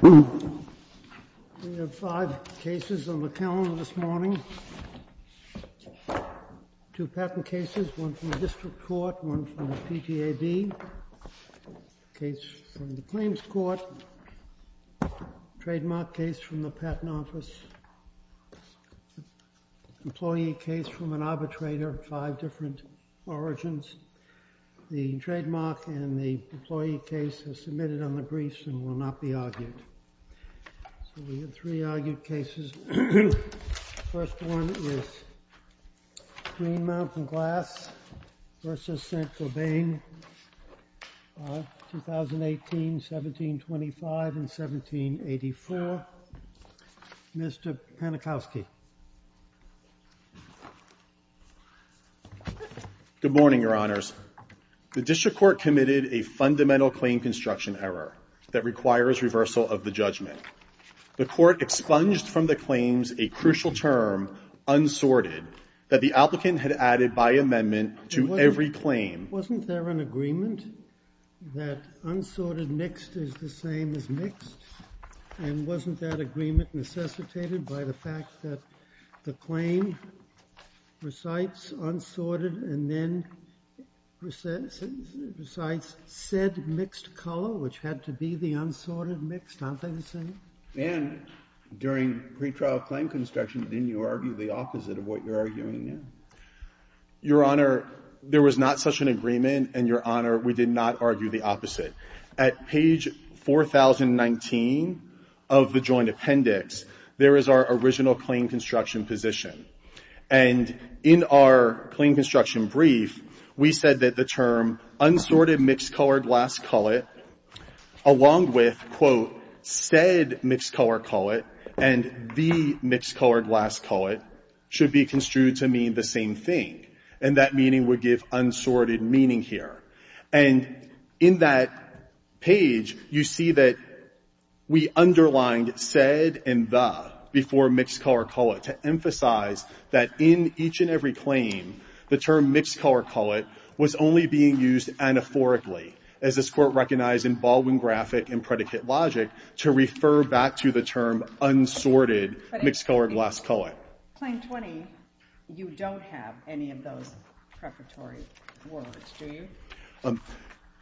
We have five cases on the calendar this morning, two patent cases, one from the district court, one from the PTAB, case from the claims court, trademark case from the patent office, employee case from an arbitrator, five different origins. The trademark and the employee case are submitted on the briefs and will not be argued. So we have three argued cases. The first one is Green Mountain Glass v. Saint-Gobain, 2018, 1725, and 1784. Now, Mr. Panikowski. Good morning, Your Honors. The district court committed a fundamental claim construction error that requires reversal of the judgment. The court expunged from the claims a crucial term, unsorted, that the applicant had added by amendment to every claim. Wasn't there an agreement that unsorted mixed is the same as mixed? And wasn't that agreement necessitated by the fact that the claim recites unsorted and then recites said mixed color, which had to be the unsorted mixed, aren't they the same? And during pretrial claim construction, didn't you argue the opposite of what you're arguing now? Your Honor, there was not such an agreement, and Your Honor, we did not argue the opposite. At page 4019 of the joint appendix, there is our original claim construction position. And in our claim construction brief, we said that the term unsorted mixed-colored glass cullet, along with, quote, said mixed-color cullet and the mixed-colored glass cullet, should be construed to mean the same thing. And that meaning would give unsorted meaning here. And in that page, you see that we underlined said and the before mixed-color cullet to emphasize that in each and every claim, the term mixed-color cullet was only being used anaphorically, as this Court recognized in Baldwin graphic and predicate logic, to refer back to the term unsorted mixed-colored glass cullet. But in Claim 20, you don't have any of those preparatory words, do you?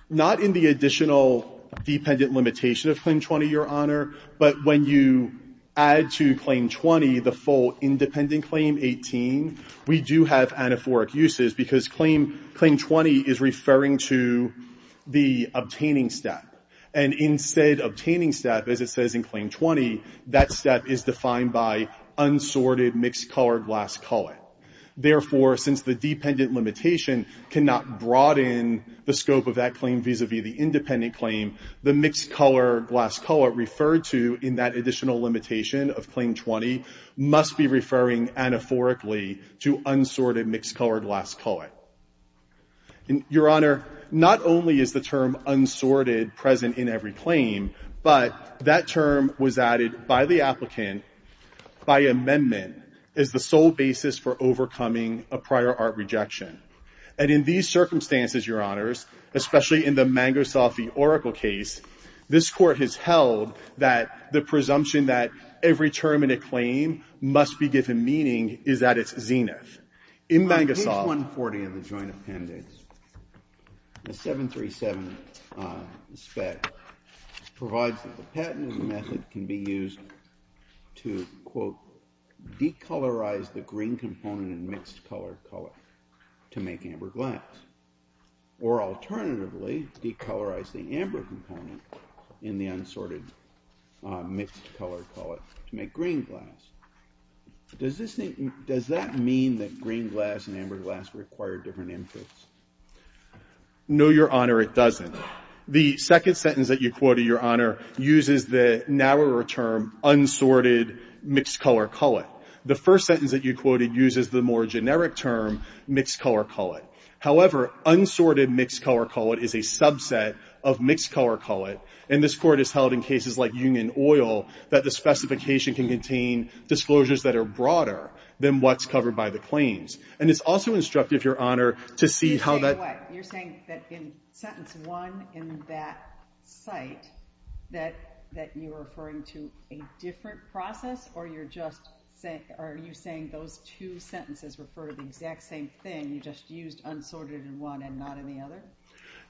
Not in the additional dependent limitation of Claim 20, Your Honor. But when you add to Claim 20 the full independent claim, 18, we do have anaphoric uses, because Claim 20 is referring to the obtaining step. And instead of obtaining step, as it says in Claim 20, that step is defined by unsorted mixed-colored glass cullet. Therefore, since the dependent limitation cannot broaden the scope of that claim vis-a-vis the independent claim, the mixed-colored glass cullet referred to in that additional limitation of Claim 20 must be referring anaphorically to unsorted mixed-colored glass cullet. Your Honor, not only is the term unsorted present in every claim, but that term was added by the applicant by amendment as the sole basis for overcoming a prior art rejection. And in these circumstances, Your Honors, especially in the Mangosoft v. Oracle case, this Court has held that the presumption that every term in a claim must be given meaning is at its zenith. In page 140 of the Joint Appendix, the 737 spec provides that the patent method can be used to, quote, decolorize the green component in mixed-colored cullet to make amber glass, or alternatively, decolorize the amber component in the unsorted mixed-colored cullet to make green glass. Does that mean that green glass and amber glass require different inputs? No, Your Honor, it doesn't. The second sentence that you quoted, Your Honor, uses the narrower term, unsorted mixed-colored cullet. The first sentence that you quoted uses the more generic term, mixed-colored cullet. However, unsorted mixed-colored cullet is a subset of mixed-colored cullet, and this Court has held in cases like Union Oil that the specification can contain disclosures that are broader than what's covered by the claims. And it's also instructive, Your Honor, to see how that... You're saying what? You're saying that in sentence one in that site that you're referring to a different process, or are you saying those two sentences refer to the exact same thing, you just used unsorted in one and not in the other?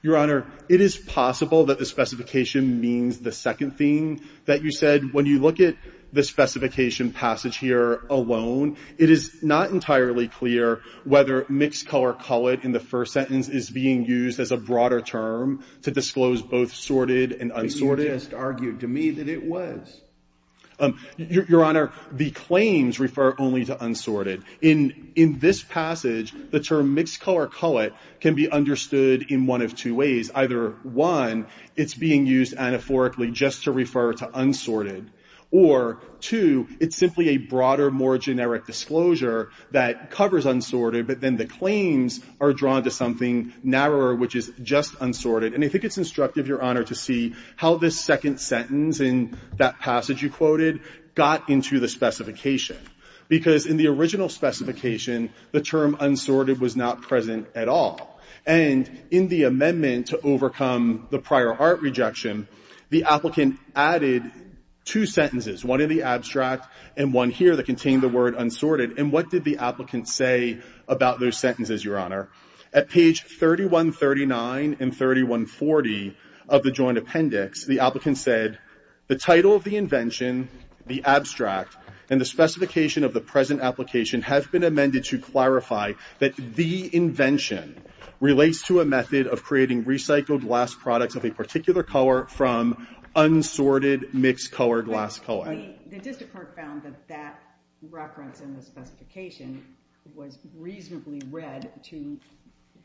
Your Honor, it is possible that the specification means the second thing that you said, when you look at the specification passage here alone, it is not entirely clear whether mixed-colored cullet in the first sentence is being used as a broader term to disclose both sorted and unsorted. But you just argued to me that it was. Your Honor, the claims refer only to unsorted. In this passage, the term mixed-colored cullet can be understood in one of two ways. Either, one, it's being used anaphorically just to refer to unsorted, or, two, it's simply a broader, more generic disclosure that covers unsorted, but then the claims are drawn to something narrower, which is just unsorted. And I think it's instructive, Your Honor, to see how this second sentence in that passage you quoted got into the specification, because in the original specification, the term unsorted was not present at all. And in the amendment to overcome the prior art rejection, the applicant added two sentences, one in the abstract and one here that contained the word unsorted. And what did the applicant say about those sentences, Your Honor? At page 3139 and 3140 of the joint appendix, the applicant said, The title of the invention, the abstract, and the specification of the present application have been amended to clarify that the invention relates to a method of creating recycled glass products of a particular color from unsorted, mixed-colored glass cullet. The district court found that that reference in the specification was reasonably read to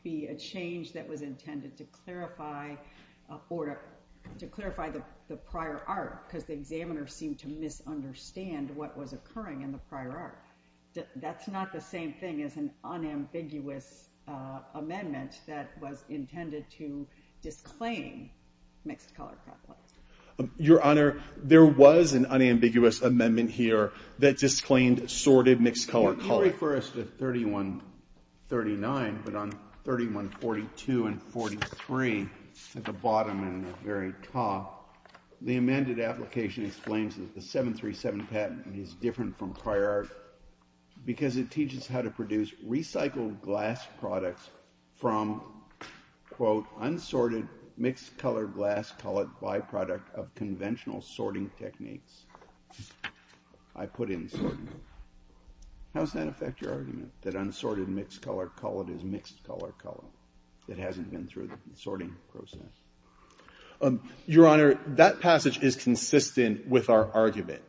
be a change that was intended to clarify the prior art, because the examiner seemed to misunderstand what was occurring in the prior art. That's not the same thing as an unambiguous amendment that was intended to disclaim mixed-colored crock pots. Your Honor, there was an unambiguous amendment here that disclaimed sorted, mixed-colored cullet. Well, you refer us to 3139, but on 3142 and 43, at the bottom and the very top, the amended application explains that the 737 patent is different from prior art because it teaches how to produce recycled glass products from, quote, unsorted, mixed-colored glass cullet byproduct of conventional sorting techniques. I put in sorting. How does that affect your argument, that unsorted, mixed-colored cullet is mixed-colored cullet? It hasn't been through the sorting process. Your Honor, that passage is consistent with our argument.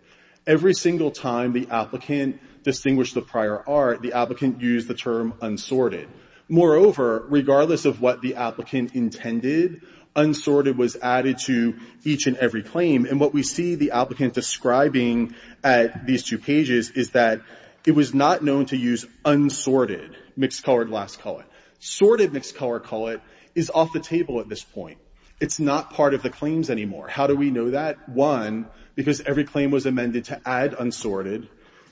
Every single time the applicant distinguished the prior art, the applicant used the term unsorted. Moreover, regardless of what the applicant intended, unsorted was added to each and every claim. And what we see the applicant describing at these two pages is that it was not known to use unsorted, mixed-colored glass cullet. Sorted mixed-colored cullet is off the table at this point. It's not part of the claims anymore. How do we know that? One, because every claim was amended to add unsorted.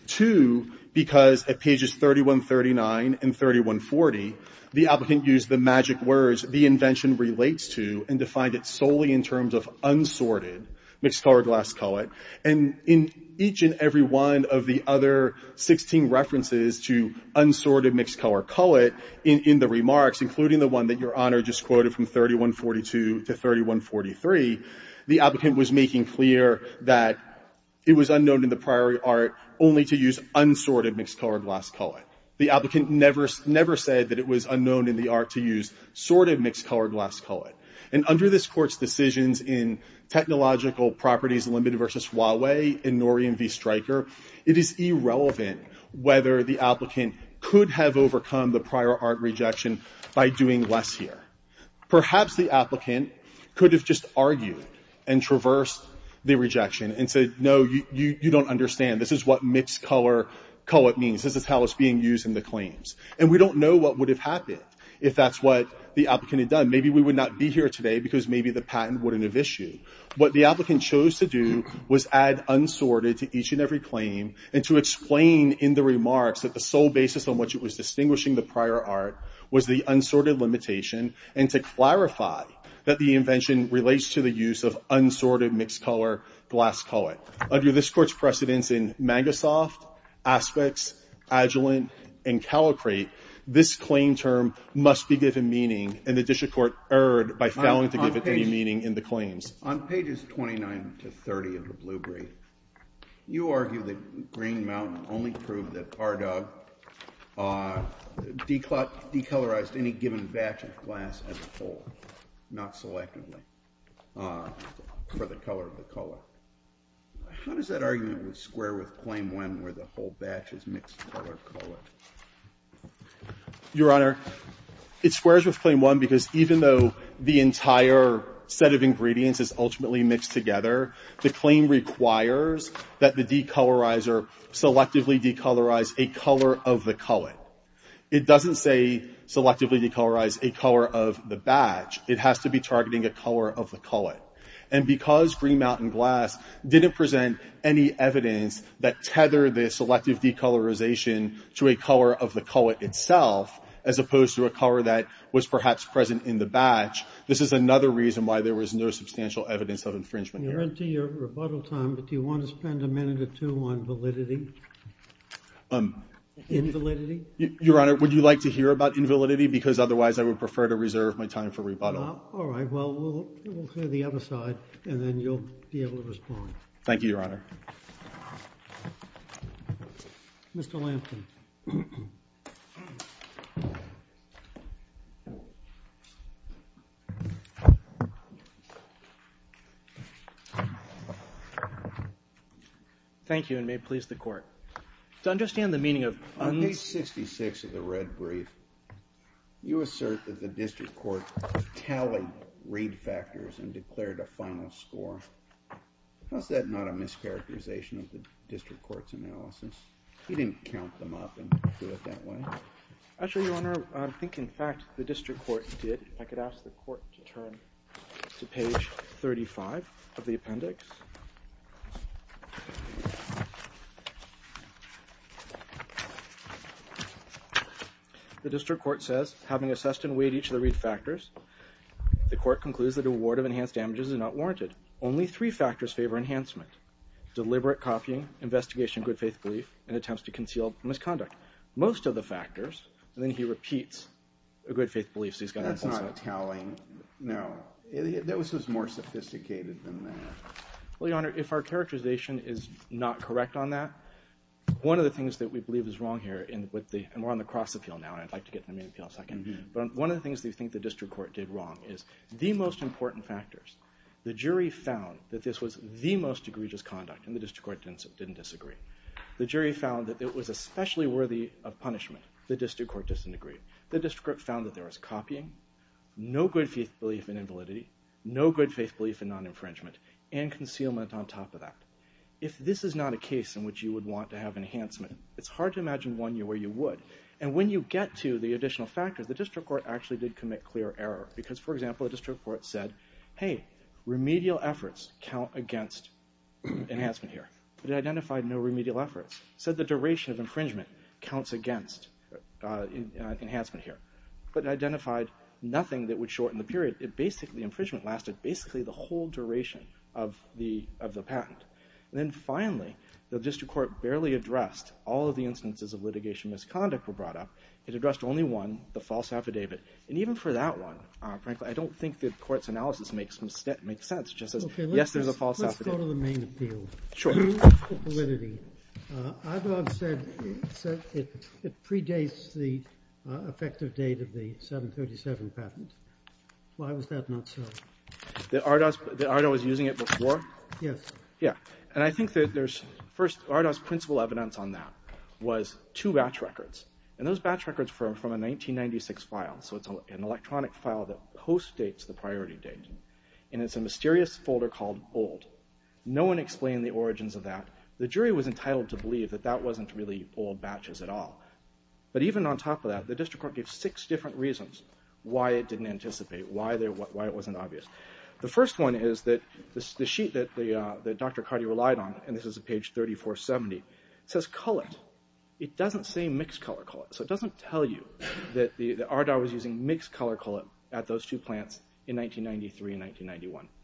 Two, because at pages 3139 and 3140, the applicant used the magic words the invention relates to and defined it solely in terms of unsorted, mixed-colored glass cullet. And in each and every one of the other 16 references to unsorted, mixed-colored cullet in the remarks, including the one that Your Honor just quoted from 3142 to 3143, the applicant was making clear that it was unknown in the prior art only to use unsorted, mixed-colored glass cullet. The applicant never said that it was unknown in the art to use sorted, mixed-colored glass cullet. And under this Court's decisions in Technological Properties Limited v. Huawei and Norium v. by doing less here. Perhaps the applicant could have just argued and traversed the rejection and said, no, you don't understand. This is what mixed-colored cullet means. This is how it's being used in the claims. And we don't know what would have happened if that's what the applicant had done. Maybe we would not be here today because maybe the patent wouldn't have issued. What the applicant chose to do was add unsorted to each and every claim and to clarify that the invention relates to the use of unsorted, mixed-colored glass cullet. Under this Court's precedence in Magasoft, Aspects, Agilent, and Calicrate, this claim term must be given meaning and the District Court erred by failing to give it any meaning in the claims. On pages 29 to 30 of the Blue Brief, you argue that Green Mountain only proved that Cardog decolorized any given batch of glass as a whole, not selectively, for the color of the cullet. How does that argument square with Claim 1 where the whole batch is mixed-colored cullet? Your Honor, it squares with Claim 1 because even though the entire set of ingredients is ultimately mixed together, the claim requires that the decolorizer selectively decolorize a color of the cullet. It doesn't say selectively decolorize a color of the batch. It has to be targeting a color of the cullet. And because Green Mountain Glass didn't present any evidence that tethered the selective decolorization to a color of the cullet itself, as opposed to a color that was perhaps present in the batch, this is another reason why there was no substantial evidence of infringement here. Your Honor, we're into your rebuttal time, but do you want to spend a minute or two on validity? Invalidity? Your Honor, would you like to hear about invalidity? Because otherwise I would prefer to reserve my time for rebuttal. All right. Well, we'll hear the other side, and then you'll be able to respond. Thank you, Your Honor. Mr. Lampton. Thank you, and may it please the Court. To understand the meaning of these. On page 66 of the red brief, you assert that the district court tallied read factors and declared a final score. Was that not a mischaracterization of the district court's analysis? You didn't count them up and do it that way? Actually, Your Honor, I think, in fact, the district court did. I could ask the court to turn to page 35 of the appendix. The district court says, having assessed and weighed each of the read factors, the court concludes that award of enhanced damages is not warranted. Only three factors favor enhancement. Deliberate copying, investigation of good faith belief, and attempts to conceal misconduct. Most of the factors. And then he repeats a good faith belief. That's not telling. No. That was more sophisticated than that. Well, Your Honor, if our characterization is not correct on that, one of the things that we believe is wrong here, and we're on the cross appeal now, and I'd like to get to the main appeal in a second. But one of the things that we think the district court did wrong is the most important factors. The jury found that this was the most egregious conduct, and the district court didn't disagree. The jury found that it was especially worthy of punishment. The district court disagreed. The district court found that there was copying, no good faith belief in invalidity, no good faith belief in non-infringement, and concealment on top of that. If this is not a case in which you would want to have enhancement, it's hard to imagine one year where you would. And when you get to the additional factors, the district court actually did commit clear error. Because, for example, the district court said, hey, remedial efforts count against enhancement here. But it identified no remedial efforts. It said the duration of infringement counts against enhancement here. But it identified nothing that would shorten the period. It basically, infringement lasted basically the whole duration of the patent. And then finally, the district court barely addressed all of the instances of litigation misconduct were brought up. It addressed only one, the false affidavit. And even for that one, frankly, I don't think the court's analysis makes sense just as, yes, there's a false affidavit. Let me go to the main appeal. Sure. The validity. Ardoz said it predates the effective date of the 737 patent. Why was that not so? That Ardoz was using it before? Yes. Yeah. And I think that there's, first, Ardoz's principal evidence on that was two batch records. And those batch records are from a 1996 file. So it's an electronic file that post-dates the priority date. And it's a mysterious folder called old. No one explained the origins of that. The jury was entitled to believe that that wasn't really old batches at all. But even on top of that, the district court gave six different reasons why it didn't anticipate, why it wasn't obvious. The first one is that the sheet that Dr. Carty relied on, and this is page 3470, says cullet. It doesn't say mixed cullet. So it doesn't tell you that Ardoz was using mixed cullet at those two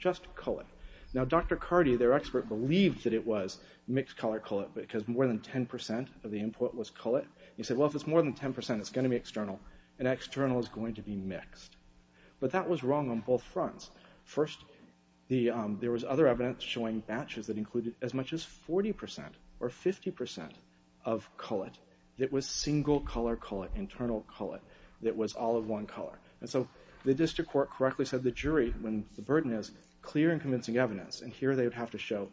Just cullet. Now, Dr. Carty, their expert, believed that it was mixed-color cullet because more than 10% of the input was cullet. He said, well, if it's more than 10%, it's going to be external, and external is going to be mixed. But that was wrong on both fronts. First, there was other evidence showing batches that included as much as 40% or 50% of cullet that was single-color cullet, internal cullet that was all of one color. And so the district court correctly said the jury, when the burden is clear and convincing evidence, and here they would have to show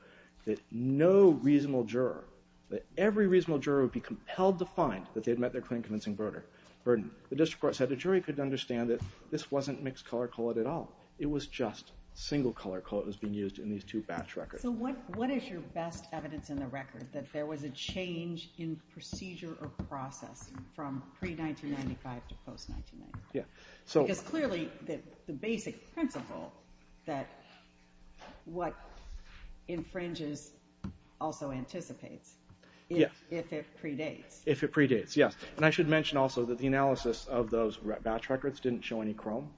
that no reasonable juror, that every reasonable juror would be compelled to find that they'd met their clear and convincing burden. The district court said the jury could understand that this wasn't mixed-color cullet at all. It was just single-color cullet that was being used in these two batch records. So what is your best evidence in the record that there was a change in procedure or process from pre-1995 to post-1995? Because clearly the basic principle that what infringes also anticipates, if it predates. If it predates, yes. And I should mention also that the analysis of those batch records didn't show any chrome,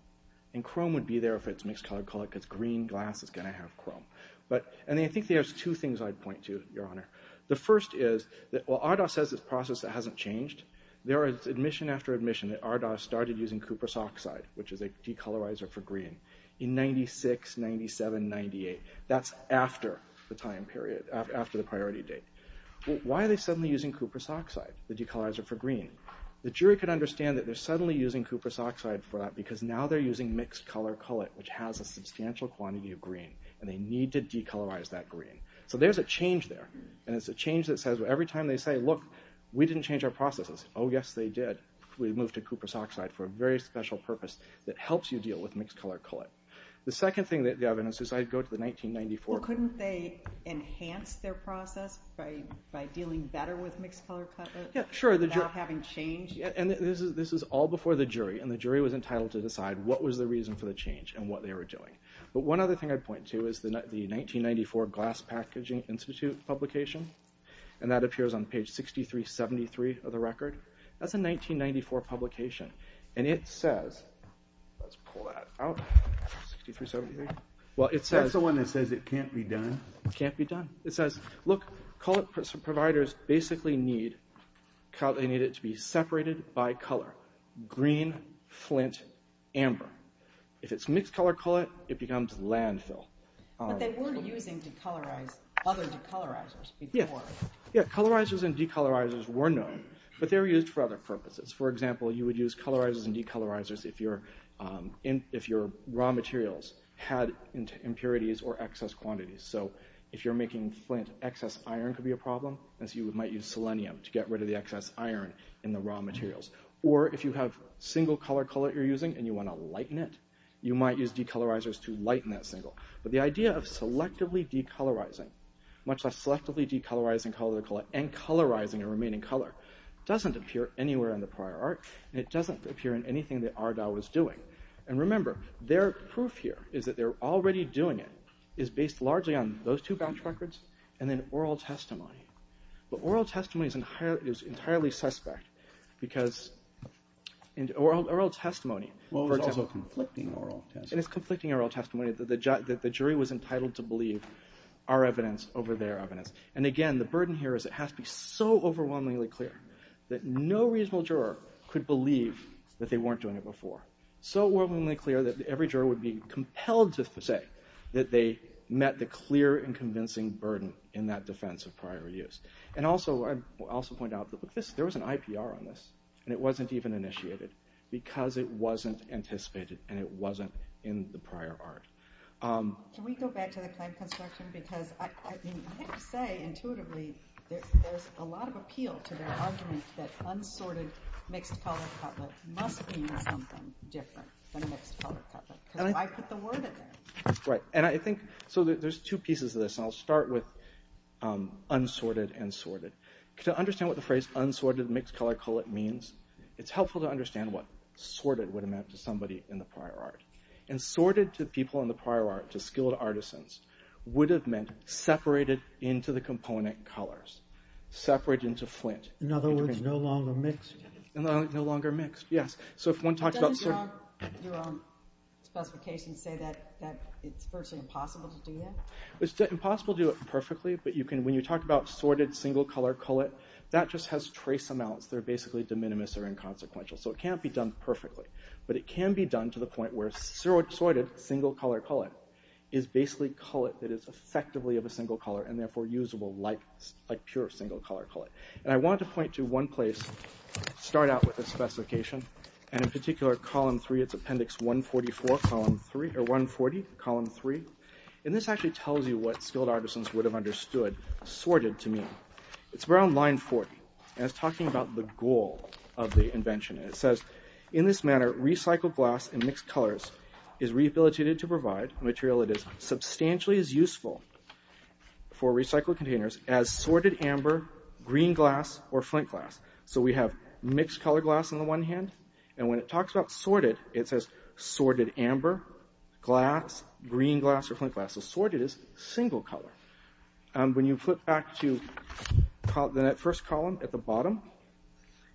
and chrome would be there if it's mixed-color cullet, because green glass is going to have chrome. And I think there's two things I'd point to, Your Honor. The first is that while RDoS says this process hasn't changed, there is admission after admission that RDoS started using cuprous oxide, which is a decolorizer for green, in 96, 97, 98. That's after the time period, after the priority date. Why are they suddenly using cuprous oxide, the decolorizer for green? The jury could understand that they're suddenly using cuprous oxide for that because now they're using mixed-color cullet, which has a substantial quantity of green, and they need to decolorize that green. So there's a change there, and it's a change that says every time they say, Look, we didn't change our processes. Oh, yes, they did. We moved to cuprous oxide for a very special purpose that helps you deal with mixed-color cullet. The second thing that the evidence says, I'd go to the 1994. Couldn't they enhance their process by dealing better with mixed-color cullet? Sure. Without having changed? And this is all before the jury, and the jury was entitled to decide what was the reason for the change and what they were doing. But one other thing I'd point to is the 1994 Glass Packaging Institute publication, and that appears on page 6373 of the record. That's a 1994 publication, and it says, let's pull that out, 6373. That's the one that says it can't be done. It can't be done. It says, Look, cullet providers basically need it to be separated by color, green, flint, amber. If it's mixed-color cullet, it becomes landfill. But they weren't using other decolorizers before. Yeah, colorizers and decolorizers were known, but they were used for other purposes. For example, you would use colorizers and decolorizers if your raw materials had impurities or excess quantities. So if you're making flint, excess iron could be a problem, and so you might use selenium to get rid of the excess iron in the raw materials. Or if you have single-color cullet you're using and you want to lighten it, you might use decolorizers to lighten that single. But the idea of selectively decolorizing, much less selectively decolorizing and colorizing a remaining cullet, doesn't appear anywhere in the prior art, and it doesn't appear in anything that RDAO was doing. And remember, their proof here is that they're already doing it, is based largely on those two batch records and then oral testimony. But oral testimony is entirely suspect because oral testimony, for example, is a conflicting oral testimony. And it's conflicting oral testimony that the jury was entitled to believe our evidence over their evidence. And again, the burden here is it has to be so overwhelmingly clear that no reasonable juror could believe that they weren't doing it before, so overwhelmingly clear that every juror would be compelled to say that they met the clear and convincing burden in that defense of prior use. And also, I'll also point out that there was an IPR on this, and it wasn't even initiated because it wasn't anticipated and it wasn't in the prior art. Can we go back to the claim construction? Because I have to say, intuitively, there's a lot of appeal to their argument that unsorted mixed-color cullet must mean something different than a mixed-color cullet. Because why put the word in there? Right. And I think there's two pieces of this, and I'll start with unsorted and sorted. To understand what the phrase unsorted mixed-color cullet means, it's helpful to understand what sorted would have meant to somebody in the prior art. And sorted to people in the prior art, to skilled artisans, would have meant separated into the component colors, separated into flint. In other words, no longer mixed. No longer mixed, yes. So if one talks about... Doesn't your own specification say that it's virtually impossible to do that? It's impossible to do it perfectly, but when you talk about single-color cullet, that just has trace amounts. They're basically de minimis or inconsequential. So it can't be done perfectly. But it can be done to the point where sorted single-color cullet is basically cullet that is effectively of a single color and therefore usable like pure single-color cullet. And I want to point to one place, start out with a specification, and in particular column 3, it's appendix 140, column 3. And this actually tells you what skilled artisans would have understood sorted to mean. It's around line 40, and it's talking about the goal of the invention. It says, in this manner, recycled glass in mixed colors is rehabilitated to provide material that is substantially as useful for recycled containers as sorted amber, green glass, or flint glass. So we have mixed-color glass on the one hand, and when it talks about sorted, it says sorted amber, glass, green glass, or flint glass. So sorted is single color. When you flip back to that first column at the bottom,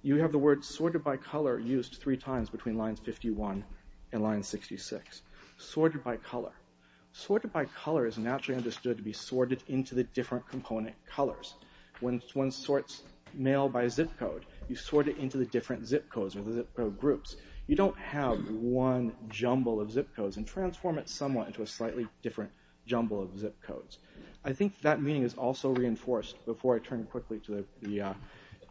you have the word sorted by color used three times between lines 51 and line 66. Sorted by color. Sorted by color is naturally understood to be sorted into the different component colors. When one sorts mail by zip code, you sort it into the different zip codes or the zip code groups. You don't have one jumble of zip codes and transform it somewhat into a slightly different jumble of zip codes. I think that meaning is also reinforced, before I turn quickly to the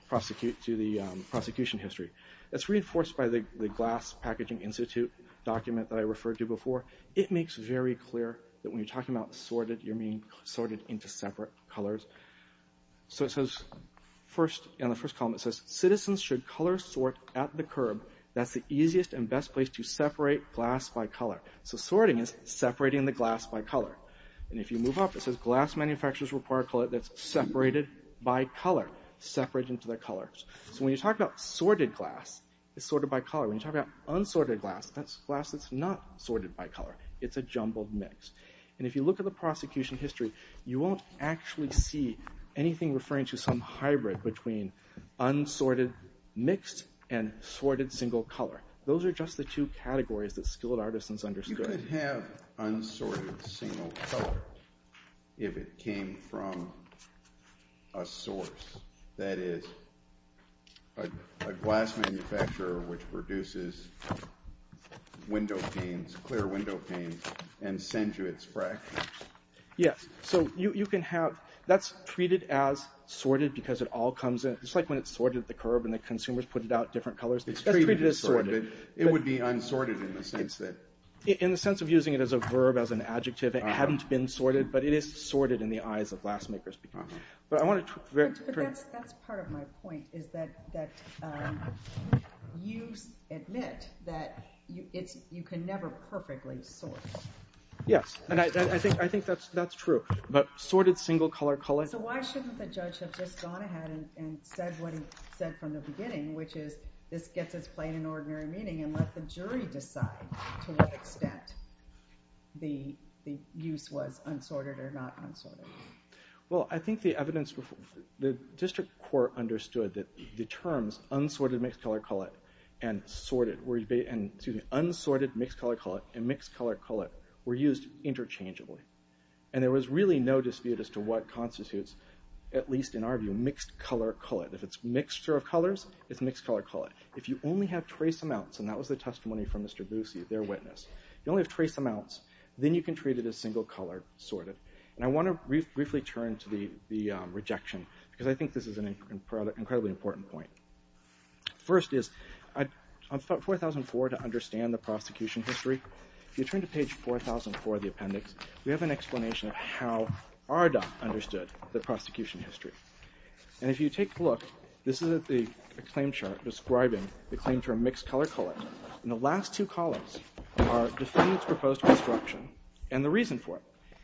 prosecution history. It's reinforced by the Glass Packaging Institute document that I referred to before. It makes very clear that when you're talking about sorted, you're meaning sorted into separate colors. So it says, in the first column, it says, citizens should color sort at the curb. That's the easiest and best place to separate glass by color. So sorting is separating the glass by color. And if you move up, it says, glass manufacturers require color that's separated by color. Separate into their colors. So when you talk about sorted glass, it's sorted by color. When you talk about unsorted glass, that's glass that's not sorted by color. It's a jumbled mix. And if you look at the prosecution history, you won't actually see anything referring to some hybrid between unsorted mixed and sorted single color. Those are just the two categories that skilled artisans understood. Would it have unsorted single color if it came from a source, that is, a glass manufacturer which produces window panes, clear window panes, and sent you its fractions? Yes. So you can have, that's treated as sorted because it all comes in. It's like when it's sorted at the curb and the consumers put it out different colors. That's treated as sorted. It would be unsorted in the sense that? In the sense of using it as a verb, as an adjective. It hadn't been sorted, but it is sorted in the eyes of glass makers. But I want to... But that's part of my point, is that you admit that you can never perfectly sort. Yes, and I think that's true. But sorted single color... So why shouldn't the judge have just gone ahead and said what he said from the beginning, which is this gets its play in an ordinary meeting and let the jury decide to what extent the use was unsorted or not unsorted? Well, I think the evidence... The district court understood that the terms unsorted mixed-color collet and sorted... Excuse me, unsorted mixed-color collet and mixed-color collet were used interchangeably. And there was really no dispute as to what constitutes, at least in our view, mixed-color collet. If it's mixture of colors, it's mixed-color collet. If you only have trace amounts, and that was the testimony from Mr. Boosie, their witness, you only have trace amounts, then you can treat it as single-color sorted. And I want to briefly turn to the rejection because I think this is an incredibly important point. First is, on page 4004 to understand the prosecution history, if you turn to page 4004 of the appendix, we have an explanation of how Arda understood the prosecution history. And if you take a look, this is a claim chart describing the claim term mixed-color collet. And the last two columns are defendants' proposed construction and the reason for it.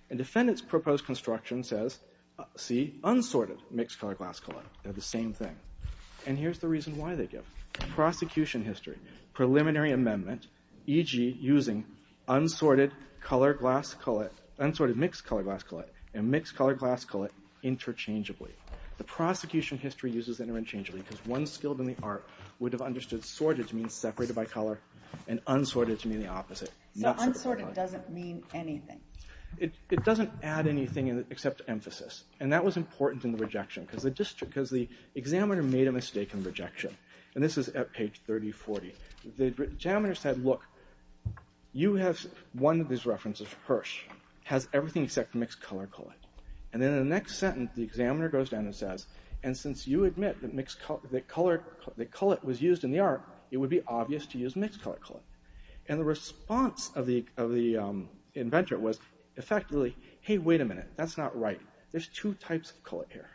And defendants' proposed construction says, see, unsorted mixed-color glass collet. They're the same thing. And here's the reason why they give. Prosecution history, preliminary amendment, e.g. using unsorted mixed-color glass collet and mixed-color glass collet interchangeably. The prosecution history uses it interchangeably because one skilled in the art would have understood sorted to mean separated by color and unsorted to mean the opposite. So unsorted doesn't mean anything. It doesn't add anything except emphasis. And that was important in the rejection because the examiner made a mistake in the rejection. And this is at page 3040. The examiner said, look, you have one of these references, Hirsch, has everything except mixed-color collet. And in the next sentence, the examiner goes down and says, and since you admit that collet was used in the art, it would be obvious to use mixed-color collet. And the response of the inventor was effectively, hey, wait a minute, that's not right. There's two types of collet here.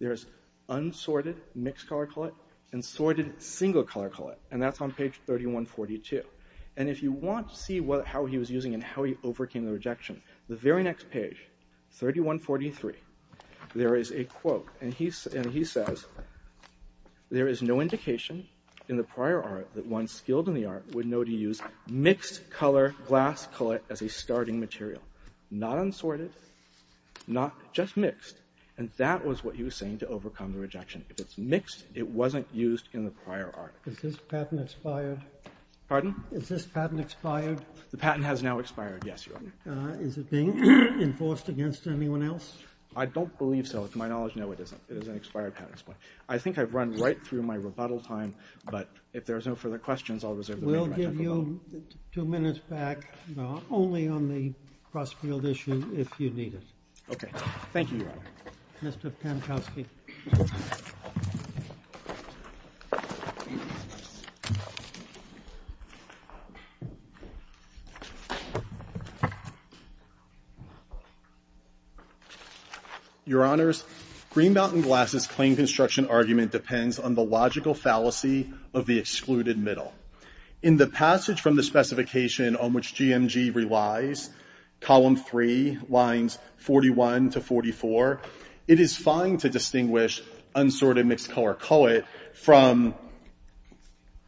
There's unsorted mixed-color collet and sorted single-color collet. And that's on page 3142. And if you want to see how he was using it and how he overcame the rejection, the very next page, 3143, there is a quote. And he says, there is no indication in the prior art that one skilled in the art would know to use mixed-color glass collet as a starting material. Not unsorted, not just mixed. And that was what he was saying to overcome the rejection. If it's mixed, it wasn't used in the prior art. Is this patent expired? Is this patent expired? The patent has now expired, yes, Your Honor. Is it being enforced against anyone else? I don't believe so. To my knowledge, no, it isn't. It is an expired patent. I think I've run right through my rebuttal time. But if there are no further questions, I'll reserve the floor. We'll give you two minutes back, only on the cross-field issue if you need it. Okay. Thank you, Your Honor. Mr. Pankowski. Your Honors, Green Mountain Glass's claim construction argument depends on the logical fallacy of the excluded middle. In the passage from the specification on which GMG relies, column three, lines 41 to 44, it is fine to distinguish unsorted mixed-color collet from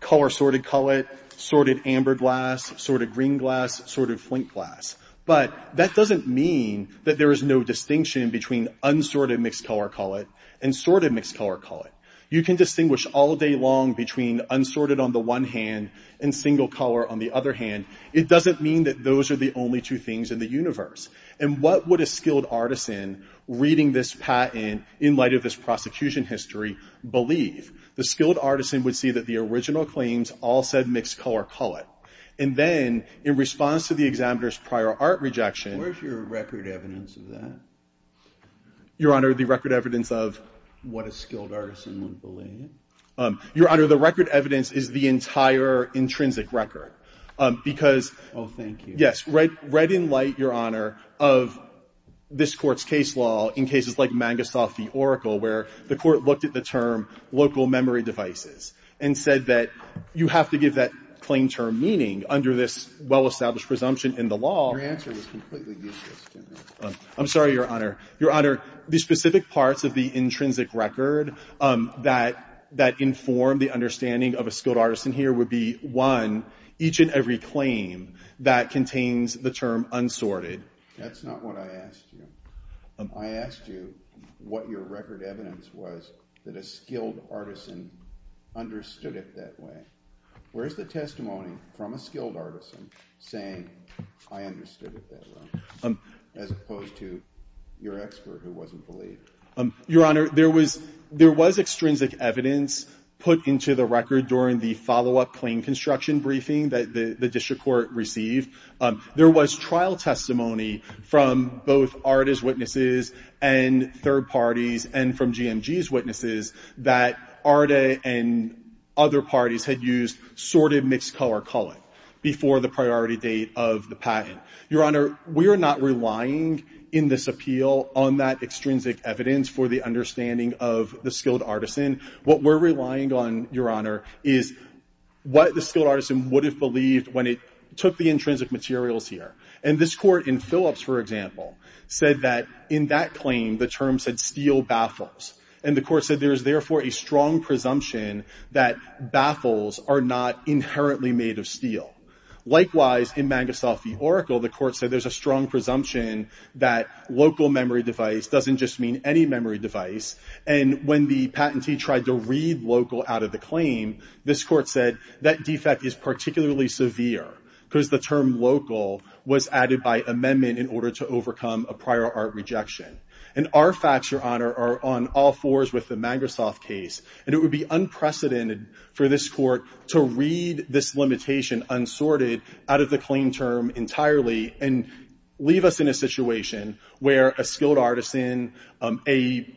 color-sorted collet, sorted amber glass, sorted green glass, sorted flint glass. But that doesn't mean that there is no distinction between unsorted mixed-color collet and sorted mixed-color collet. You can distinguish all day long between unsorted on the one hand and single color on the other hand. It doesn't mean that those are the only two things in the universe. And what would a skilled artisan reading this patent in light of this prosecution history believe? The skilled artisan would see that the original claims all said mixed-color collet. And then, in response to the examiner's prior art rejection... Where is your record evidence of that? Your Honor, the record evidence of... What a skilled artisan would believe? Your Honor, the record evidence is the entire intrinsic record. Because... Oh, thank you. Yes. Red in light, Your Honor, of this Court's case law in cases like Mangasoth v. Oracle, where the Court looked at the term local memory devices and said that you have to give that claim term meaning under this well-established presumption in the law... Your answer was completely useless, General. I'm sorry, Your Honor. Your Honor, the specific parts of the intrinsic record that inform the understanding of a skilled artisan here would be, one, each and every claim that contains the term unsorted. That's not what I asked you. I asked you what your record evidence was that a skilled artisan understood it that way. Where is the testimony from a skilled artisan saying, I understood it that way, as opposed to your expert who wasn't believed? Your Honor, there was extrinsic evidence put into the record during the follow-up claim construction briefing that the district court received. There was trial testimony from both art as witnesses and third parties and from GMG's witnesses that ARDA and other parties had used sorted mixed-color culling before the priority date of the patent. Your Honor, we are not relying in this appeal on that extrinsic evidence for the understanding of the skilled artisan. What we're relying on, Your Honor, is what the skilled artisan would have believed when it took the intrinsic materials here. And this Court in Phillips, for example, said that in that claim, the term said steel baffles. And the Court said there is therefore a strong presumption that baffles are not inherently made of steel. Likewise, in Magistoff v. Oracle, the Court said there's a strong presumption that local memory device doesn't just mean any memory device. And when the patentee tried to read local out of the claim, this Court said that defect is particularly severe because the term local was added by amendment in order to overcome a prior art rejection. And our facts, Your Honor, are on all fours with the Magistoff case. And it would be unprecedented for this Court to read this limitation unsorted out of the claim term entirely and leave us in a situation where a skilled artisan, a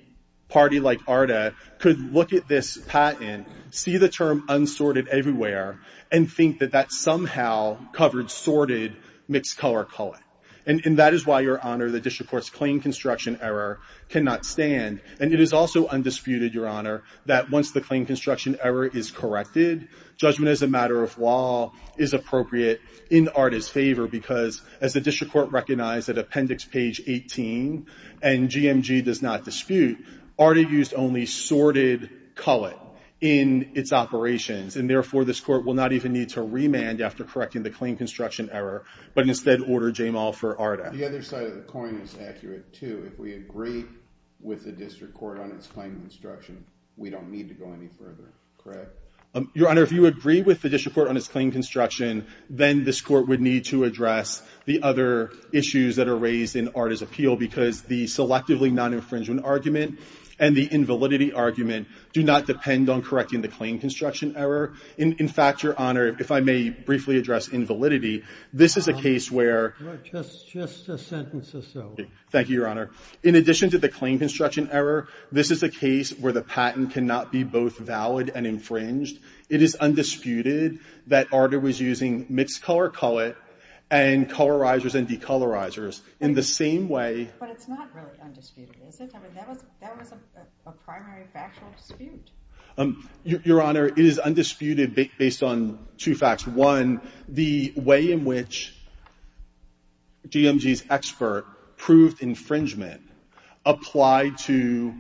party like ARDA, could look at this patent, see the term unsorted everywhere, and think that that somehow covered sorted mixed-color culling. And that is why, Your Honor, the District Court's claim construction error cannot stand. And it is also undisputed, Your Honor, that once the claim construction error is corrected, judgment as a matter of law is appropriate in ARDA's favor because as the District Court recognized at Appendix Page 18 and GMG does not dispute, ARDA used only sorted culling in its operations. And therefore, this Court will not even need to remand after correcting the claim construction error but instead order JAMAL for ARDA. The other side of the coin is accurate, too. If we agree with the District Court on its claim construction, we don't need to go any further, correct? Your Honor, if you agree with the District Court on its claim construction, then this Court would need to address the other issues that are raised in ARDA's appeal because the selectively non-infringement argument and the invalidity argument do not depend on correcting the claim construction error. In fact, Your Honor, if I may briefly address invalidity, this is a case where... Just a sentence or so. Thank you, Your Honor. In addition to the claim construction error, this is a case where the patent cannot be both valid and infringed. It is undisputed that ARDA was using mixed-color cullet and colorizers and decolorizers in the same way... But it's not really undisputed, is it? I mean, that was a primary factual dispute. Your Honor, it is undisputed based on two facts. One, the way in which GMG's expert proved infringement applied to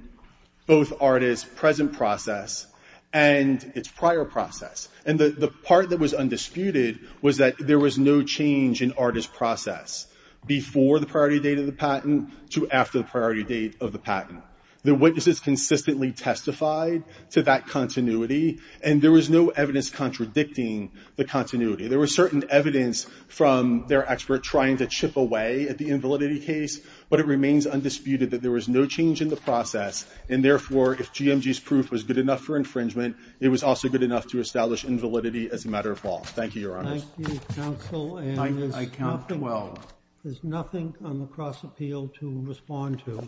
both ARDA's present process and its prior process. And the part that was undisputed was that there was no change in ARDA's process before the priority date of the patent to after the priority date of the patent. The witnesses consistently testified to that continuity, and there was no evidence contradicting the continuity. There was certain evidence from their expert trying to chip away at the invalidity case, but it remains undisputed that there was no change in the process, and therefore, if GMG's proof was good enough for infringement, it was also good enough to establish invalidity as a matter of law. Thank you, Your Honor. Thank you, counsel. And there's nothing... I count well. There's nothing on the cross-appeal to respond to.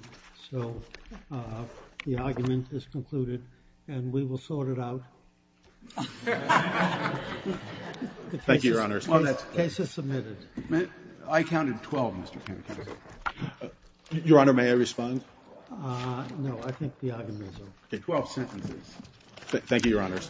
So the argument is concluded, and we will sort it out. Thank you, Your Honor. The case is submitted. I counted 12, Mr. Panuccio. Your Honor, may I respond? No, I think the argument is over. 12 sentences. Thank you, Your Honors.